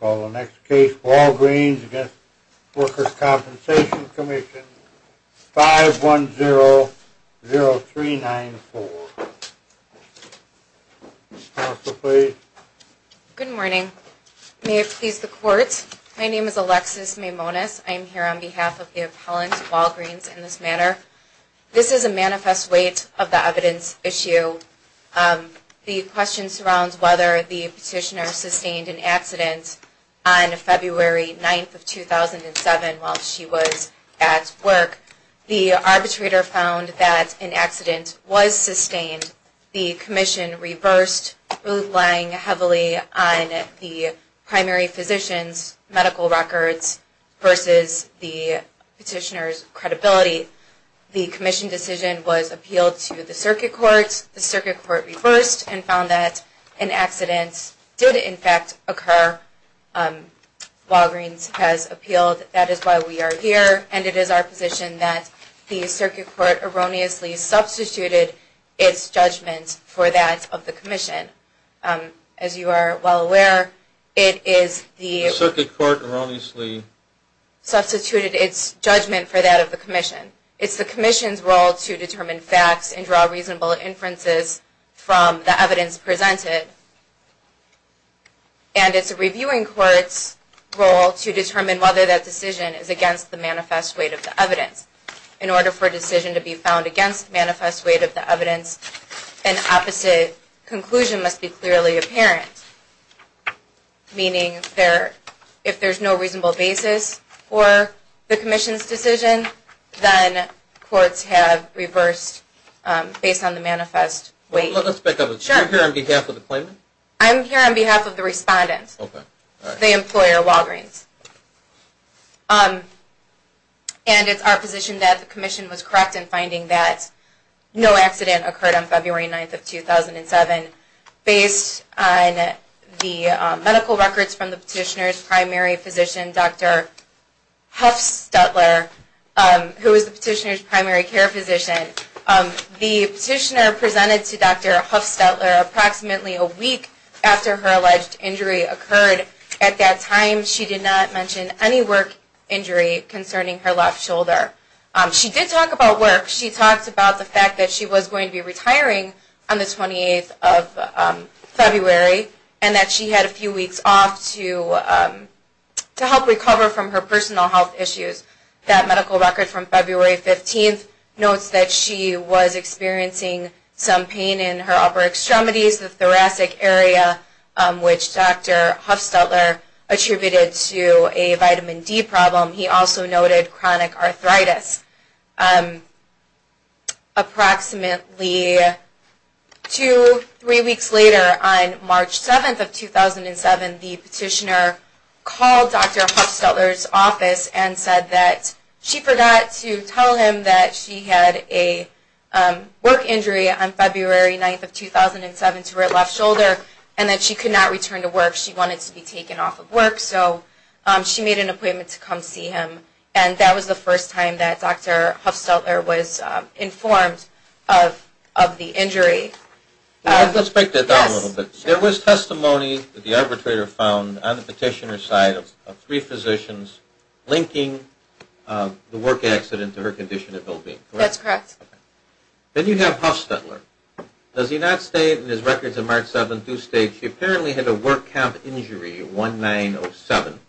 Call the next case, Walgreens v. Workers' Compensation Commission, 5100394. Counsel, please. Good morning. May it please the Court, my name is Alexis Maimonas. I am here on behalf of the appellant, Walgreens, in this matter. This is a manifest weight of the evidence issue. The question surrounds whether the petitioner sustained an accident on February 9, 2007 while she was at work. The arbitrator found that an accident was sustained. The commission reversed, relying heavily on the primary physician's medical records versus the petitioner's credibility. The commission decision was appealed to the circuit court. The circuit court reversed and found that an accident did, in fact, occur. Walgreens has appealed. That is why we are here. And it is our position that the circuit court erroneously substituted its judgment for that of the commission. As you are well aware, it is the... The circuit court erroneously... It is the commission's role to determine facts and draw reasonable inferences from the evidence presented. And it is the reviewing court's role to determine whether that decision is against the manifest weight of the evidence. In order for a decision to be found against the manifest weight of the evidence, an opposite conclusion must be clearly apparent. Meaning, if there is no reasonable basis for the commission's decision, then courts have reversed based on the manifest weight. Let's back up. Are you here on behalf of the claimant? I am here on behalf of the respondent, the employer, Walgreens. And it is our position that the commission was correct in finding that no accident occurred on February 9, 2007 based on the medical records from the petitioner's primary physician, Dr. Huffstutler, who is the petitioner's primary care physician. The petitioner presented to Dr. Huffstutler approximately a week after her alleged injury occurred. At that time, she did not mention any work injury concerning her left shoulder. She did talk about work. She talked about the fact that she was going to be retiring on the 28th of February and that she had a few weeks off to help recover from her personal health issues. That medical record from February 15th notes that she was experiencing some pain in her upper extremities, the thoracic area, which Dr. Huffstutler attributed to a vitamin D problem. He also noted chronic arthritis. Approximately two, three weeks later, on March 7th of 2007, the petitioner called Dr. Huffstutler's office and said that she forgot to tell him that she had a work injury on February 9th of 2007 to her left shoulder and that she could not return to work. She wanted to be taken off of work. So she made an appointment to come see him. And that was the first time that Dr. Huffstutler was informed of the injury. Let's break that down a little bit. There was testimony that the arbitrator found on the petitioner's side of three physicians linking the work accident to her condition of well-being. That's correct. Then you have Huffstutler. Does he not state in his records of March 7th, do state she apparently had a work camp injury, 1907.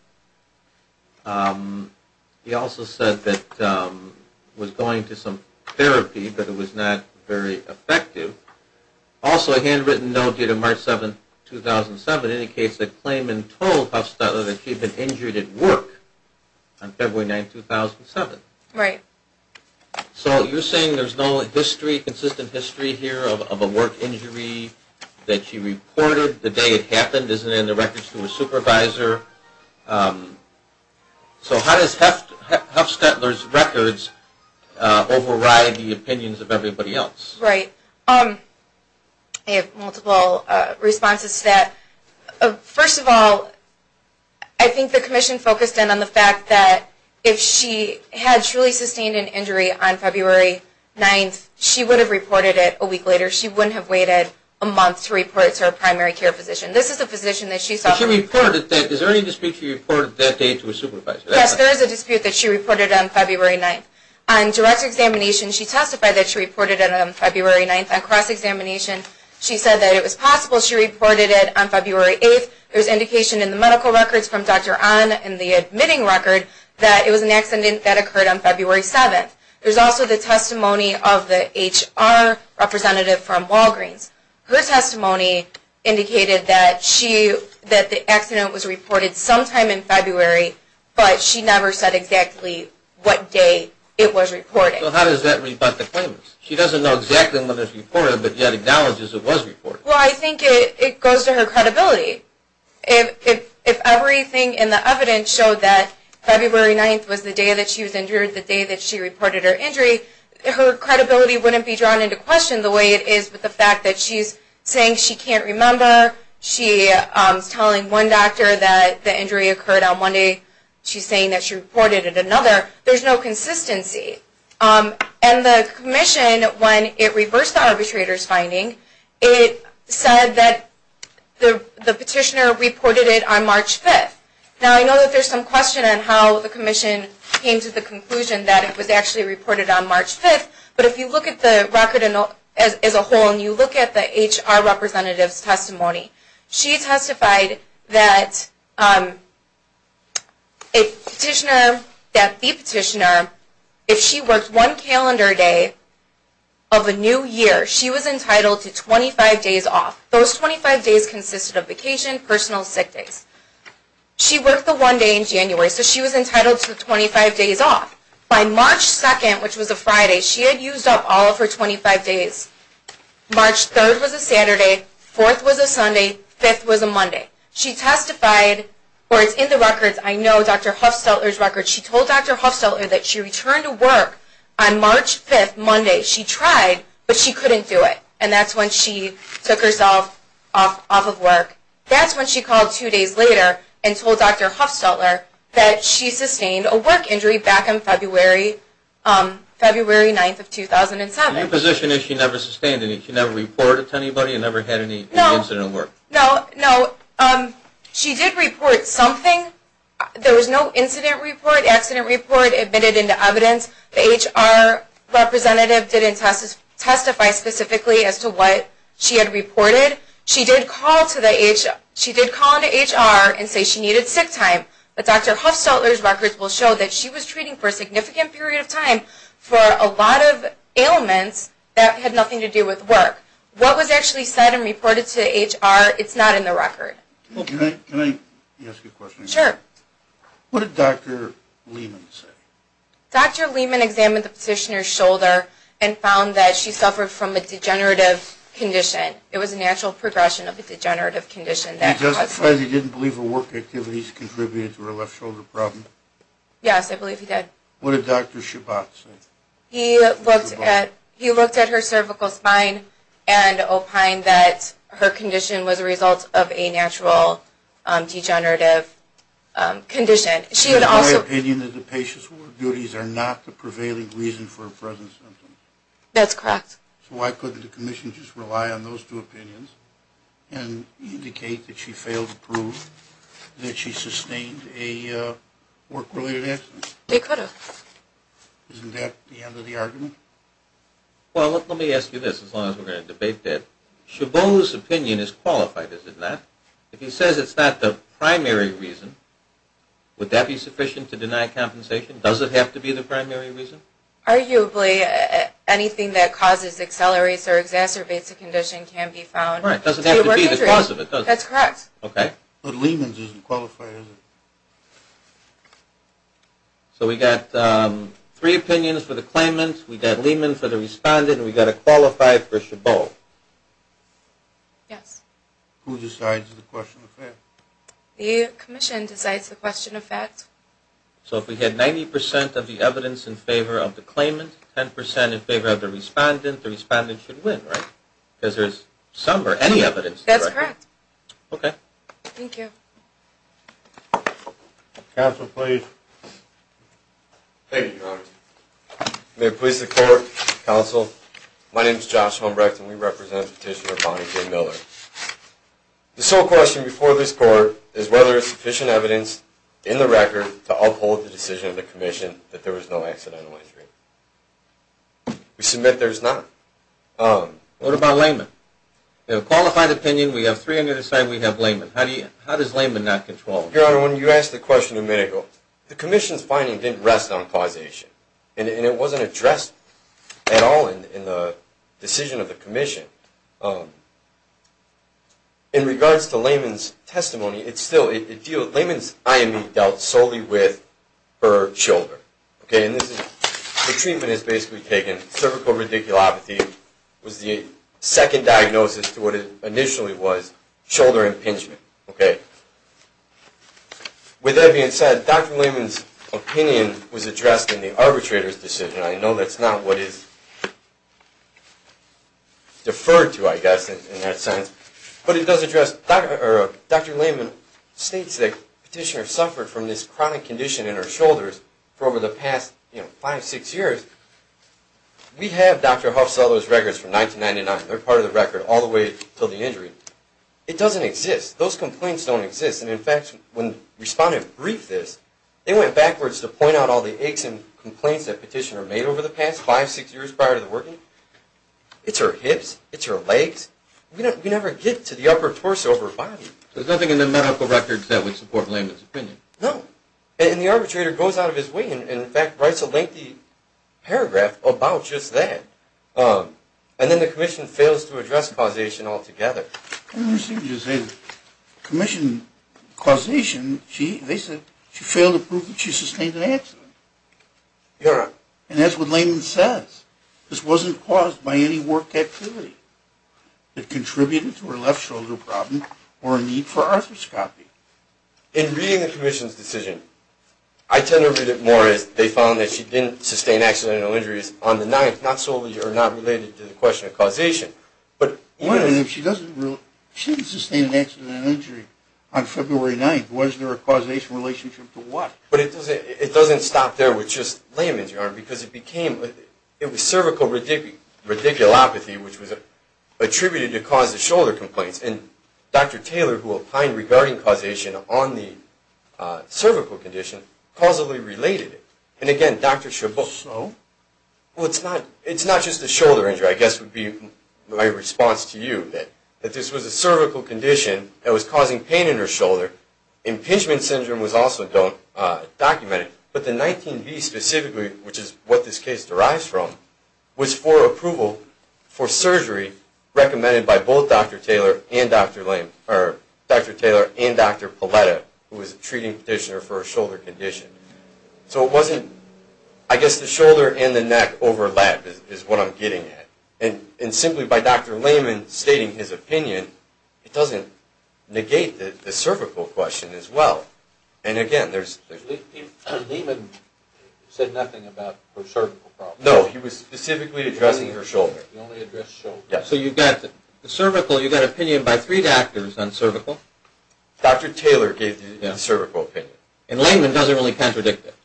He also said that she was going to some therapy, but it was not very effective. Also, a handwritten note due to March 7th, 2007, indicates that Clayman told Huffstutler that she had been injured at work on February 9th, 2007. Right. So you're saying there's no history, consistent history here of a work injury that she reported the day it happened. Is it in the records to a supervisor? So how does Huffstutler's records override the opinions of everybody else? Right. I have multiple responses to that. First of all, I think the commission focused in on the fact that if she had truly sustained an injury on February 9th, she would have reported it a week later. She wouldn't have waited a month to report it to her primary care physician. This is a physician that she saw. But she reported that. Is there any dispute she reported that day to a supervisor? Yes, there is a dispute that she reported on February 9th. On direct examination, she testified that she reported it on February 9th. On cross-examination, she said that it was possible she reported it on February 8th. There's indication in the medical records from Dr. Onn and the admitting record that it was an accident that occurred on February 7th. There's also the testimony of the HR representative from Walgreens. Her testimony indicated that the accident was reported sometime in February, but she never said exactly what day it was reported. So how does that rebut the claimants? She doesn't know exactly when it was reported, but yet acknowledges it was reported. Well, I think it goes to her credibility. If everything in the evidence showed that February 9th was the day that she was injured, the day that she reported her injury, her credibility wouldn't be drawn into question the way it is with the fact that she's saying she can't remember. She's telling one doctor that the injury occurred on one day. She's saying that she reported it another. There's no consistency. And the commission, when it reversed the arbitrator's finding, it said that the petitioner reported it on March 5th. Now, I know that there's some question on how the commission came to the conclusion that it was actually reported on March 5th, but if you look at the record as a whole and you look at the HR representative's testimony, she testified that the petitioner, if she worked one calendar day of a new year, she was entitled to 25 days off. Those 25 days consisted of vacation, personal, sick days. She worked the one day in January, so she was entitled to 25 days off. By March 2nd, which was a Friday, she had used up all of her 25 days. March 3rd was a Saturday, 4th was a Sunday, 5th was a Monday. She testified, or it's in the records, I know Dr. Huffstetter's records, she told Dr. Huffstetter that she returned to work on March 5th, Monday. She tried, but she couldn't do it, and that's when she took herself off of work. That's when she called two days later and told Dr. Huffstetter that she sustained a work injury back on February 9th of 2007. The position is she never sustained any, she never reported to anybody, and never had any incident at work? No, no. She did report something. There was no incident report, accident report, admitted into evidence. She didn't testify specifically as to what she had reported. She did call to the, she did call into HR and say she needed sick time, but Dr. Huffstetter's records will show that she was treating for a significant period of time for a lot of ailments that had nothing to do with work. What was actually said and reported to HR, it's not in the record. Can I ask you a question? Sure. What did Dr. Lehman say? Dr. Lehman examined the petitioner's shoulder and found that she suffered from a degenerative condition. It was a natural progression of a degenerative condition. He testified he didn't believe her work activities contributed to her left shoulder problem? Yes, I believe he did. What did Dr. Shabbat say? He looked at her cervical spine and opined that her condition was a result of a natural degenerative condition. She had also... In my opinion, the patient's work duties are not the prevailing reason for her present symptoms. That's correct. So why couldn't the commission just rely on those two opinions and indicate that she failed to prove that she sustained a work-related accident? They could have. Isn't that the end of the argument? Well, let me ask you this, as long as we're going to debate that. Shabbat's opinion is qualified, is it not? If he says it's not the primary reason, would that be sufficient to deny compensation? Does it have to be the primary reason? Arguably. Anything that causes, accelerates, or exacerbates a condition can be found. It doesn't have to be the cause of it, does it? That's correct. But Lehman's isn't qualified, is it? So we've got three opinions for the claimant, we've got Lehman's for the respondent, and we've got to qualify for Shabbo. Yes. Who decides the question of fact? The commission decides the question of fact. So if we had 90% of the evidence in favor of the claimant, 10% in favor of the respondent, the respondent should win, right? Because there's some or any evidence. That's correct. Okay. Thank you. Counsel, please. Thank you, Your Honor. May it please the Court, Counsel, my name is Josh Humbrecht and we represent Petitioner Bonnie J. Miller. The sole question before this Court is whether there is sufficient evidence in the record to uphold the decision of the commission that there was no accidental injury. We submit there is not. What about Lehman? We have a qualified opinion, we have three on the other side, we have Lehman. How does Lehman not control it? Your Honor, when you asked the question a minute ago, the commission's finding didn't rest on causation and it wasn't addressed at all in the decision of the commission. In regards to Lehman's testimony, it's still, Lehman's IME dealt solely with her shoulder. Okay, and this is, the treatment is basically taken, cervical radiculopathy was the second diagnosis to what it initially was, shoulder impingement. Okay. With that being said, Dr. Lehman's opinion was addressed in the arbitrator's decision. I know that's not what is deferred to, I guess, in that sense. But it does address, Dr. Lehman states that Petitioner suffered from this chronic condition in her shoulders for over the past five, six years. We have Dr. Huff's records from 1999, they're part of the record, all the way until the injury. It doesn't exist, those complaints don't exist. And in fact, when respondents briefed this, they went backwards to point out all the aches and complaints that Petitioner made over the past five, six years prior to the working. It's her hips, it's her legs, we never get to the upper torso or the upper body. There's nothing in the medical records that would support Lehman's opinion. No, and the arbitrator goes out of his way and in fact writes a lengthy paragraph about just that. And then the commission fails to address causation altogether. Commission causation, they said she failed to prove that she sustained an accident. And that's what Lehman says. This wasn't caused by any work activity that contributed to her left shoulder problem or a need for arthroscopy. In reading the commission's decision, I tend to read it more as they found that she didn't sustain accidental injuries on the 9th, not solely or not related to the question of causation. But even if she doesn't, she didn't sustain an accidental injury on February 9th. Was there a causation relationship to what? But it doesn't stop there with just Lehman's arm because it became, it was cervical radiculopathy which was attributed to cause of shoulder complaints. And Dr. Taylor, who opined regarding causation on the cervical condition, causally related it. And again, Dr. Chabot. So? Well, it's not just a shoulder injury. I guess would be my response to you that this was a cervical condition that was causing pain in her shoulder. Impingement syndrome was also documented. But the 19B specifically, which is what this case derives from, was for approval for surgery recommended by both Dr. Taylor and Dr. Paletta who was a treating petitioner for a shoulder condition. So it wasn't, I guess the shoulder and the neck overlap is what I'm getting at. And simply by Dr. Lehman stating his opinion, it doesn't negate the cervical question as well. And again, there's... Lehman said nothing about her cervical problem. No. He was specifically addressing her shoulder. You only addressed shoulder. Yes. So you got the cervical, you got opinion by three doctors on cervical. Dr. Taylor gave the cervical opinion. And Lehman doesn't really contradict it.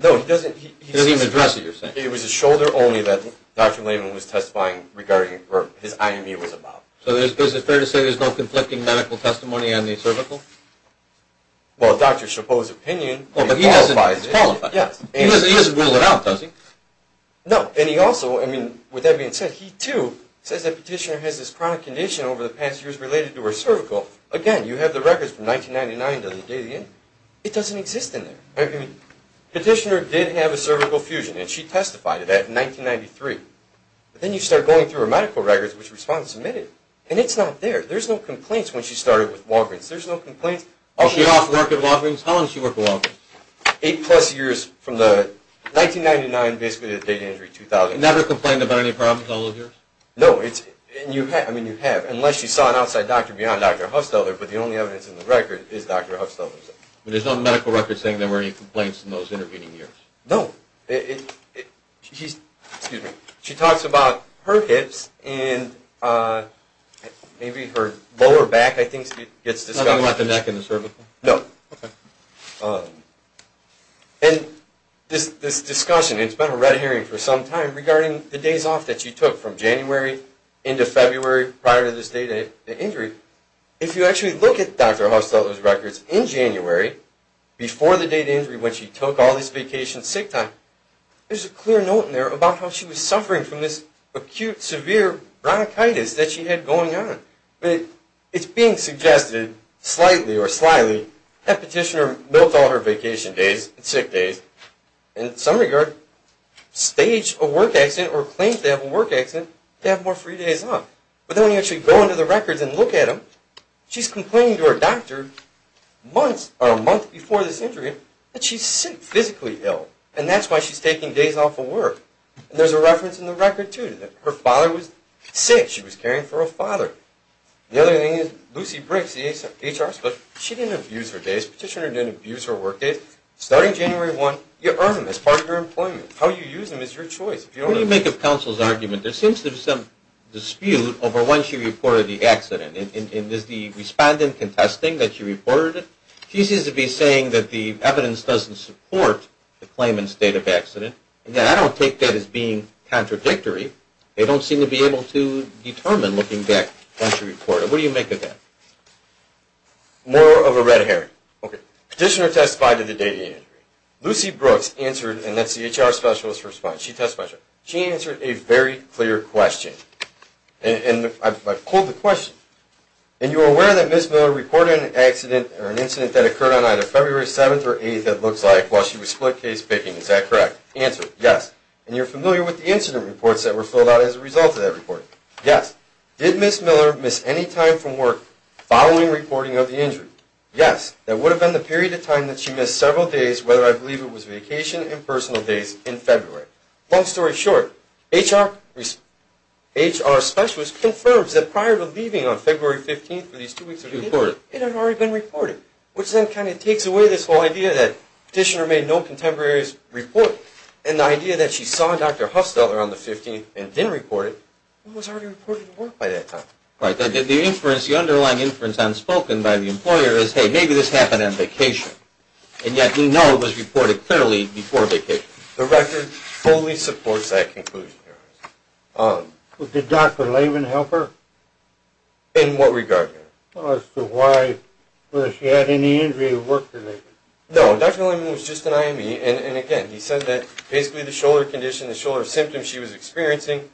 No, he doesn't. He doesn't even address what you're saying. It was the shoulder only that Dr. Lehman was testifying regarding, or his IME was about. So is it fair to say there's no conflicting medical testimony on the cervical? Well, Dr. Chabot's opinion qualifies it. He doesn't rule it out, does he? No. And he also, I mean, with that being said, he too says that Petitioner has this chronic condition over the past years related to her cervical. Again, you have the records from 1999 to the day of the injury. It doesn't exist in there. Petitioner did have a cervical fusion, and she testified of that in 1993. But then you start going through her medical records, which respond to submitted, and it's not there. There's no complaints when she started with Walgreens. There's no complaints. She lost work at Walgreens? How long did she work at Walgreens? I don't know. Never complained about any problems all those years? No. I mean, you have, unless you saw an outside doctor beyond Dr. Huffstetter, but the only evidence in the record is Dr. Huffstetter. But there's no medical records saying there were any complaints in those intervening years? No. She talks about her hips, and maybe her lower back, I think, gets discussed. Nothing about the neck and the cervical? No. And this discussion, regarding the days off that she took, from January into February, prior to this date of the injury, if you actually look at Dr. Huffstetter's records in January, before the date of the injury when she took all this vacation sick time, there's a clear note in there about how she was suffering from this acute, severe bronchitis that she had going on. But it's being suggested, slightly or slyly, that Petitioner milked all her vacation days and sick days, so that if she has a work accident or claims to have a work accident, they have more free days off. But then when you actually go into the records and look at them, she's complaining to her doctor a month before this injury that she's physically ill, and that's why she's taking days off of work. And there's a reference in the record, too, that her father was sick. She was caring for her father. The other thing is Lucy Briggs, the HR specialist, she didn't abuse her days. What do you make of Counsel's argument? There seems to be some dispute over when she reported the accident. Is the respondent contesting that she reported it? She seems to be saying that the evidence doesn't support the claimant's state of accident. And I don't take that as being contradictory. They don't seem to be able to determine looking back when she reported it. What do you make of that? More of a red herring. Petitioner testified to the day of the injury. Lucy Brooks answered a very clear question. And I pulled the question. And you were aware that Ms. Miller reported an accident or an incident that occurred on either February 7th or 8th, it looks like, while she was split case picking. Is that correct? Answer, yes. And you're familiar with the incident reports that were filled out as a result of that report. Yes. Did Ms. Miller miss any time from work following reporting of the injury? Yes. That would have been the period of time that she missed several days, whether I believe it was vacation and personal days in February. Long story short, HR specialist confirms that prior to leaving on February 15th for these two weeks of the injury, it had already been reported. Which then kind of takes away this whole idea that petitioner made no contemporaries report. And the idea that she saw Dr. Hufstetter on the 15th and didn't report it was already reported to work by that time. That didn't happen on vacation. And yet we know it was reported clearly before vacation. The record fully supports that conclusion. Did Dr. Layman help her? In what regard? As to why, whether she had any injury or work-related. No, Dr. Layman was just an IME and again, he said that basically the shoulder condition, the shoulder symptoms she was experiencing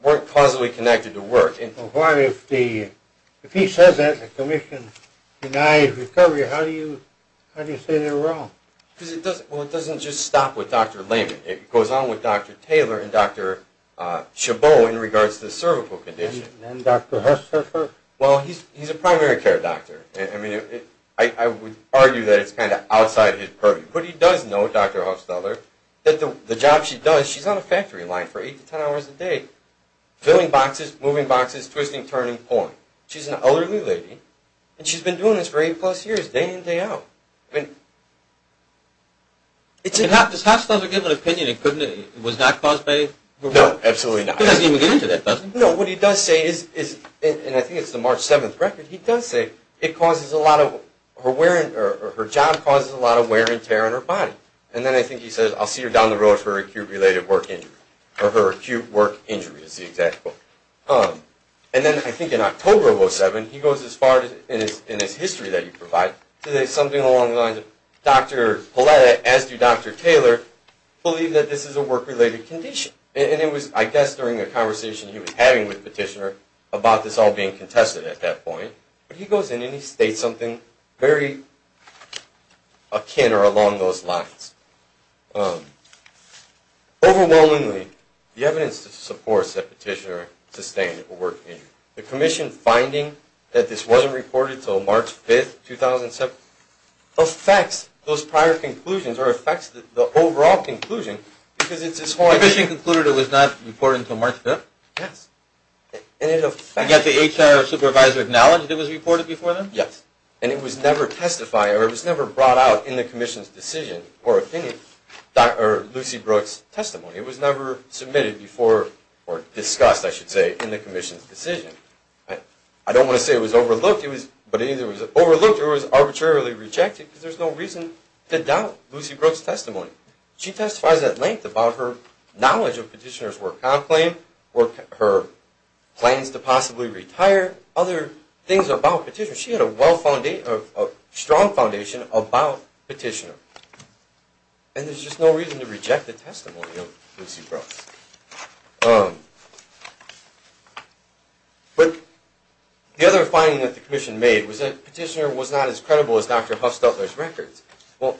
weren't causally connected to work. Why, if he says that in his purview, how do you say they're wrong? Well, it doesn't just stop with Dr. Layman. It goes on with Dr. Taylor and Dr. Chabot in regards to the cervical condition. And Dr. Hufstetter? Well, he's a primary care doctor. I mean, I would argue that it's kind of outside his purview. But he does know, Dr. Hufstetter, that the job she does, she's on a factory line for eight to 10 hours a day filling boxes, moving boxes, day in, day out. I mean, Dr. Hufstetter doesn't give an opinion. Was that caused by? No, absolutely not. He doesn't even get into that, does he? No, what he does say is, and I think it's the March 7th record, he does say, her job causes a lot of wear and tear on her body. And then I think he says, I'll see her down the road for her acute work injury, is the exact quote. So there's something along the lines of, Dr. Paletta, as do Dr. Taylor, believe that this is a work-related condition. And it was, I guess, during a conversation he was having with Petitioner about this all being contested at that point. But he goes in and he states something very akin or along those lines. Overwhelmingly, the evidence supports that Petitioner sustained a work injury. The commission finding that Petitioner sustained a work injury affects those prior conclusions or affects the overall conclusion because it's his whole idea. The commission concluded it was not reported until March 5th? Yes. Did the HR supervisor acknowledge that it was reported before then? Yes. And it was never testified or it was never brought out in the commission's decision or opinion, in Lucy Brooks' testimony. It was never submitted before or discussed, I should say, in the commission's decision. I don't want to say it was overlooked, but either it was overlooked or it was arbitrarily rejected because there's no reason to doubt Lucy Brooks' testimony. She testifies at length about her knowledge of Petitioner's work comp claim, her plans to possibly retire, other things about Petitioner. She had a strong foundation and there's just no reason to reject the testimony of Lucy Brooks. But the other finding that the commission made was that Petitioner was not as credible as Dr. Huffstutler's records. Well,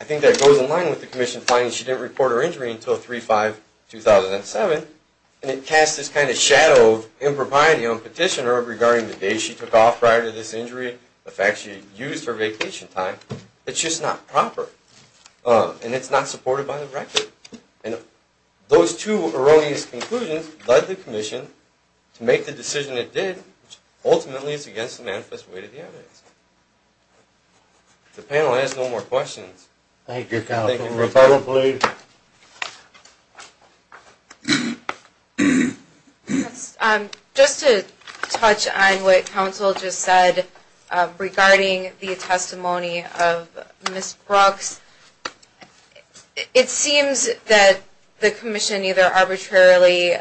I think that goes in line with the commission finding she didn't report her injury until 3-5-2007 and it cast this kind of shadow of impropriety on Petitioner regarding the days she took off and it's not supported by the record. And those two erroneous conclusions led the commission to make the decision it did, which ultimately is against the manifest way to the evidence. The panel has no more questions. Thank you, Cal. Thank you. Just to touch on what counsel just said regarding the testimony of Ms. Brooks, it seems that the commission either arbitrarily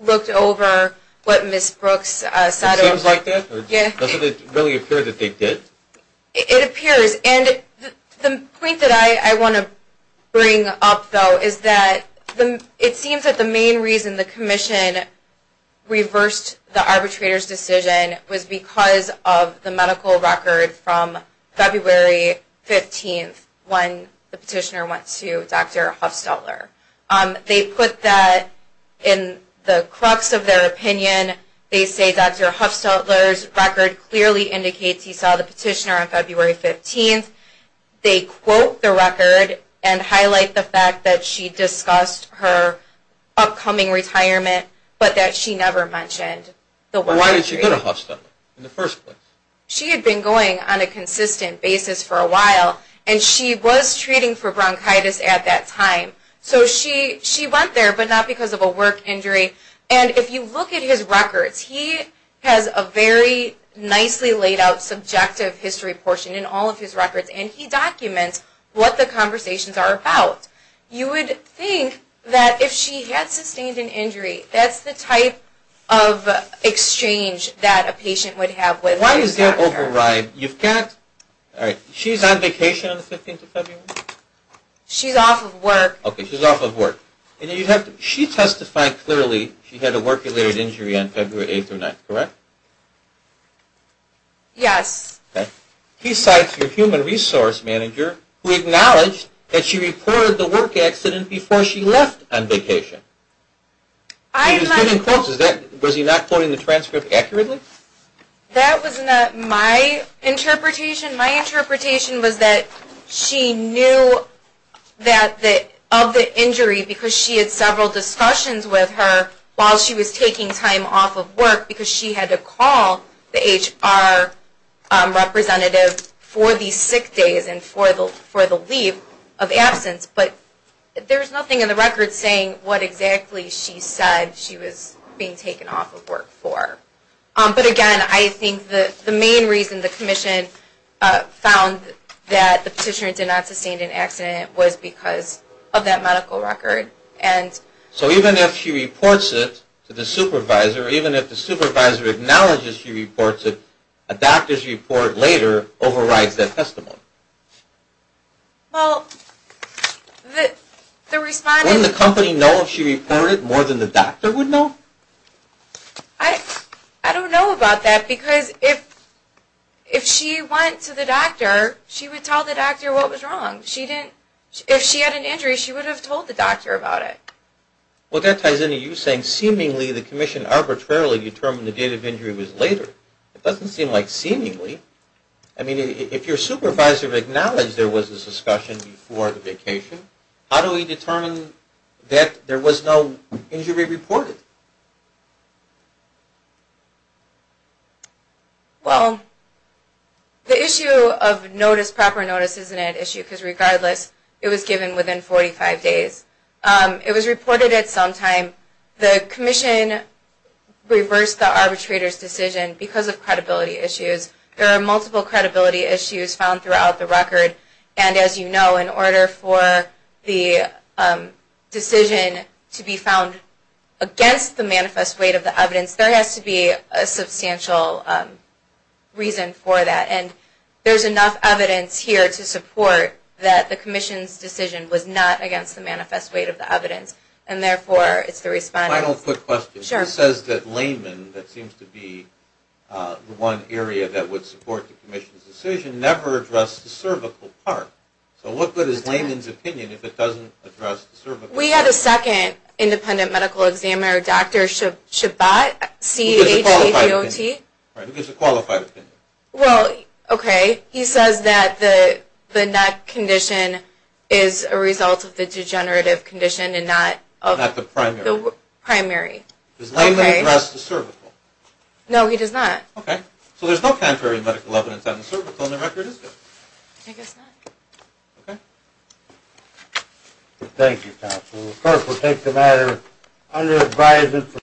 looked over what Ms. Brooks said. It seems like that? Doesn't it really appear that they did? It appears. And the point that I want to bring up, though, is that it seems that the main reason the commission reversed the arbitrator's decision on February 15th when the petitioner went to Dr. Huffstutler. They put that in the crux of their opinion. They say Dr. Huffstutler's record clearly indicates he saw the petitioner on February 15th. They quote the record and highlight the fact that she discussed her upcoming retirement but that she never mentioned that she was treating for bronchitis at that time. So she went there but not because of a work injury. And if you look at his records, he has a very nicely laid out subjective history portion in all of his records what the conversations are about. You would think that if she had sustained an injury, that's the type of exchange that a patient would have with their doctor. She's on vacation on the 15th of February? She's off of work. She testified clearly she had a work-related injury on February 8th or 9th, correct? Yes. He cites her human resource manager who acknowledged that she reported a work-related injury on February 8th. Was he not quoting the transcript accurately? That was not my interpretation. My interpretation was that she knew of the injury because she had several discussions with her while she was taking time off of work because she had to call the HR representative for the sick days and for the leave of absence. There's nothing in the record saying what exactly she said she was being taken off of work for. But again, I think the main reason the commission found that the petitioner did not sustain an accident was because of that medical record. So even if she reports it to the supervisor, even if the supervisor acknowledges she reports it, a doctor's report later overrides that testimony. Well, wouldn't the company know if she reported more than the doctor would know? I don't know about that because if she went to the doctor, she would tell the doctor what was wrong. If she had an injury, she would have told the doctor about it. Well, that ties into you saying seemingly the commission arbitrarily determined the date of injury was later. It doesn't seem like seemingly. I mean, if your supervisor acknowledged there was this discussion before the vacation, how do we determine that there was no injury reported? Well, the issue of proper notice isn't an issue because regardless, it was given within 45 days. It was reported at some time. The commission reversed the arbitrator's decision because of credibility issues. There are multiple credibility issues found throughout the record, and as you know, in order for the decision to be found against the manifest weight of the evidence, a substantial reason for that. And there's enough evidence here to support that the commission's decision was not against the manifest weight of the evidence, and therefore it's the respondent's. Final quick question. Sure. Who says that Layman, that seems to be the one area that would support the commission's decision, never addressed the cervical part? So what good is Layman's opinion if it doesn't address the cervical part? We have a second independent medical examiner, Dr. Shabbat, C-H-A-B-O-T. Who gives a shot at the primary. Does Layman address the cervical? No, he does not. Okay. So there's no contrary medical evidence on the cervical, and the I guess not. Okay. Thank you, counsel. The clerk will take the matter under advisement from Dr. Shabbat. Thank you. Thank you. Thank you. Thank you.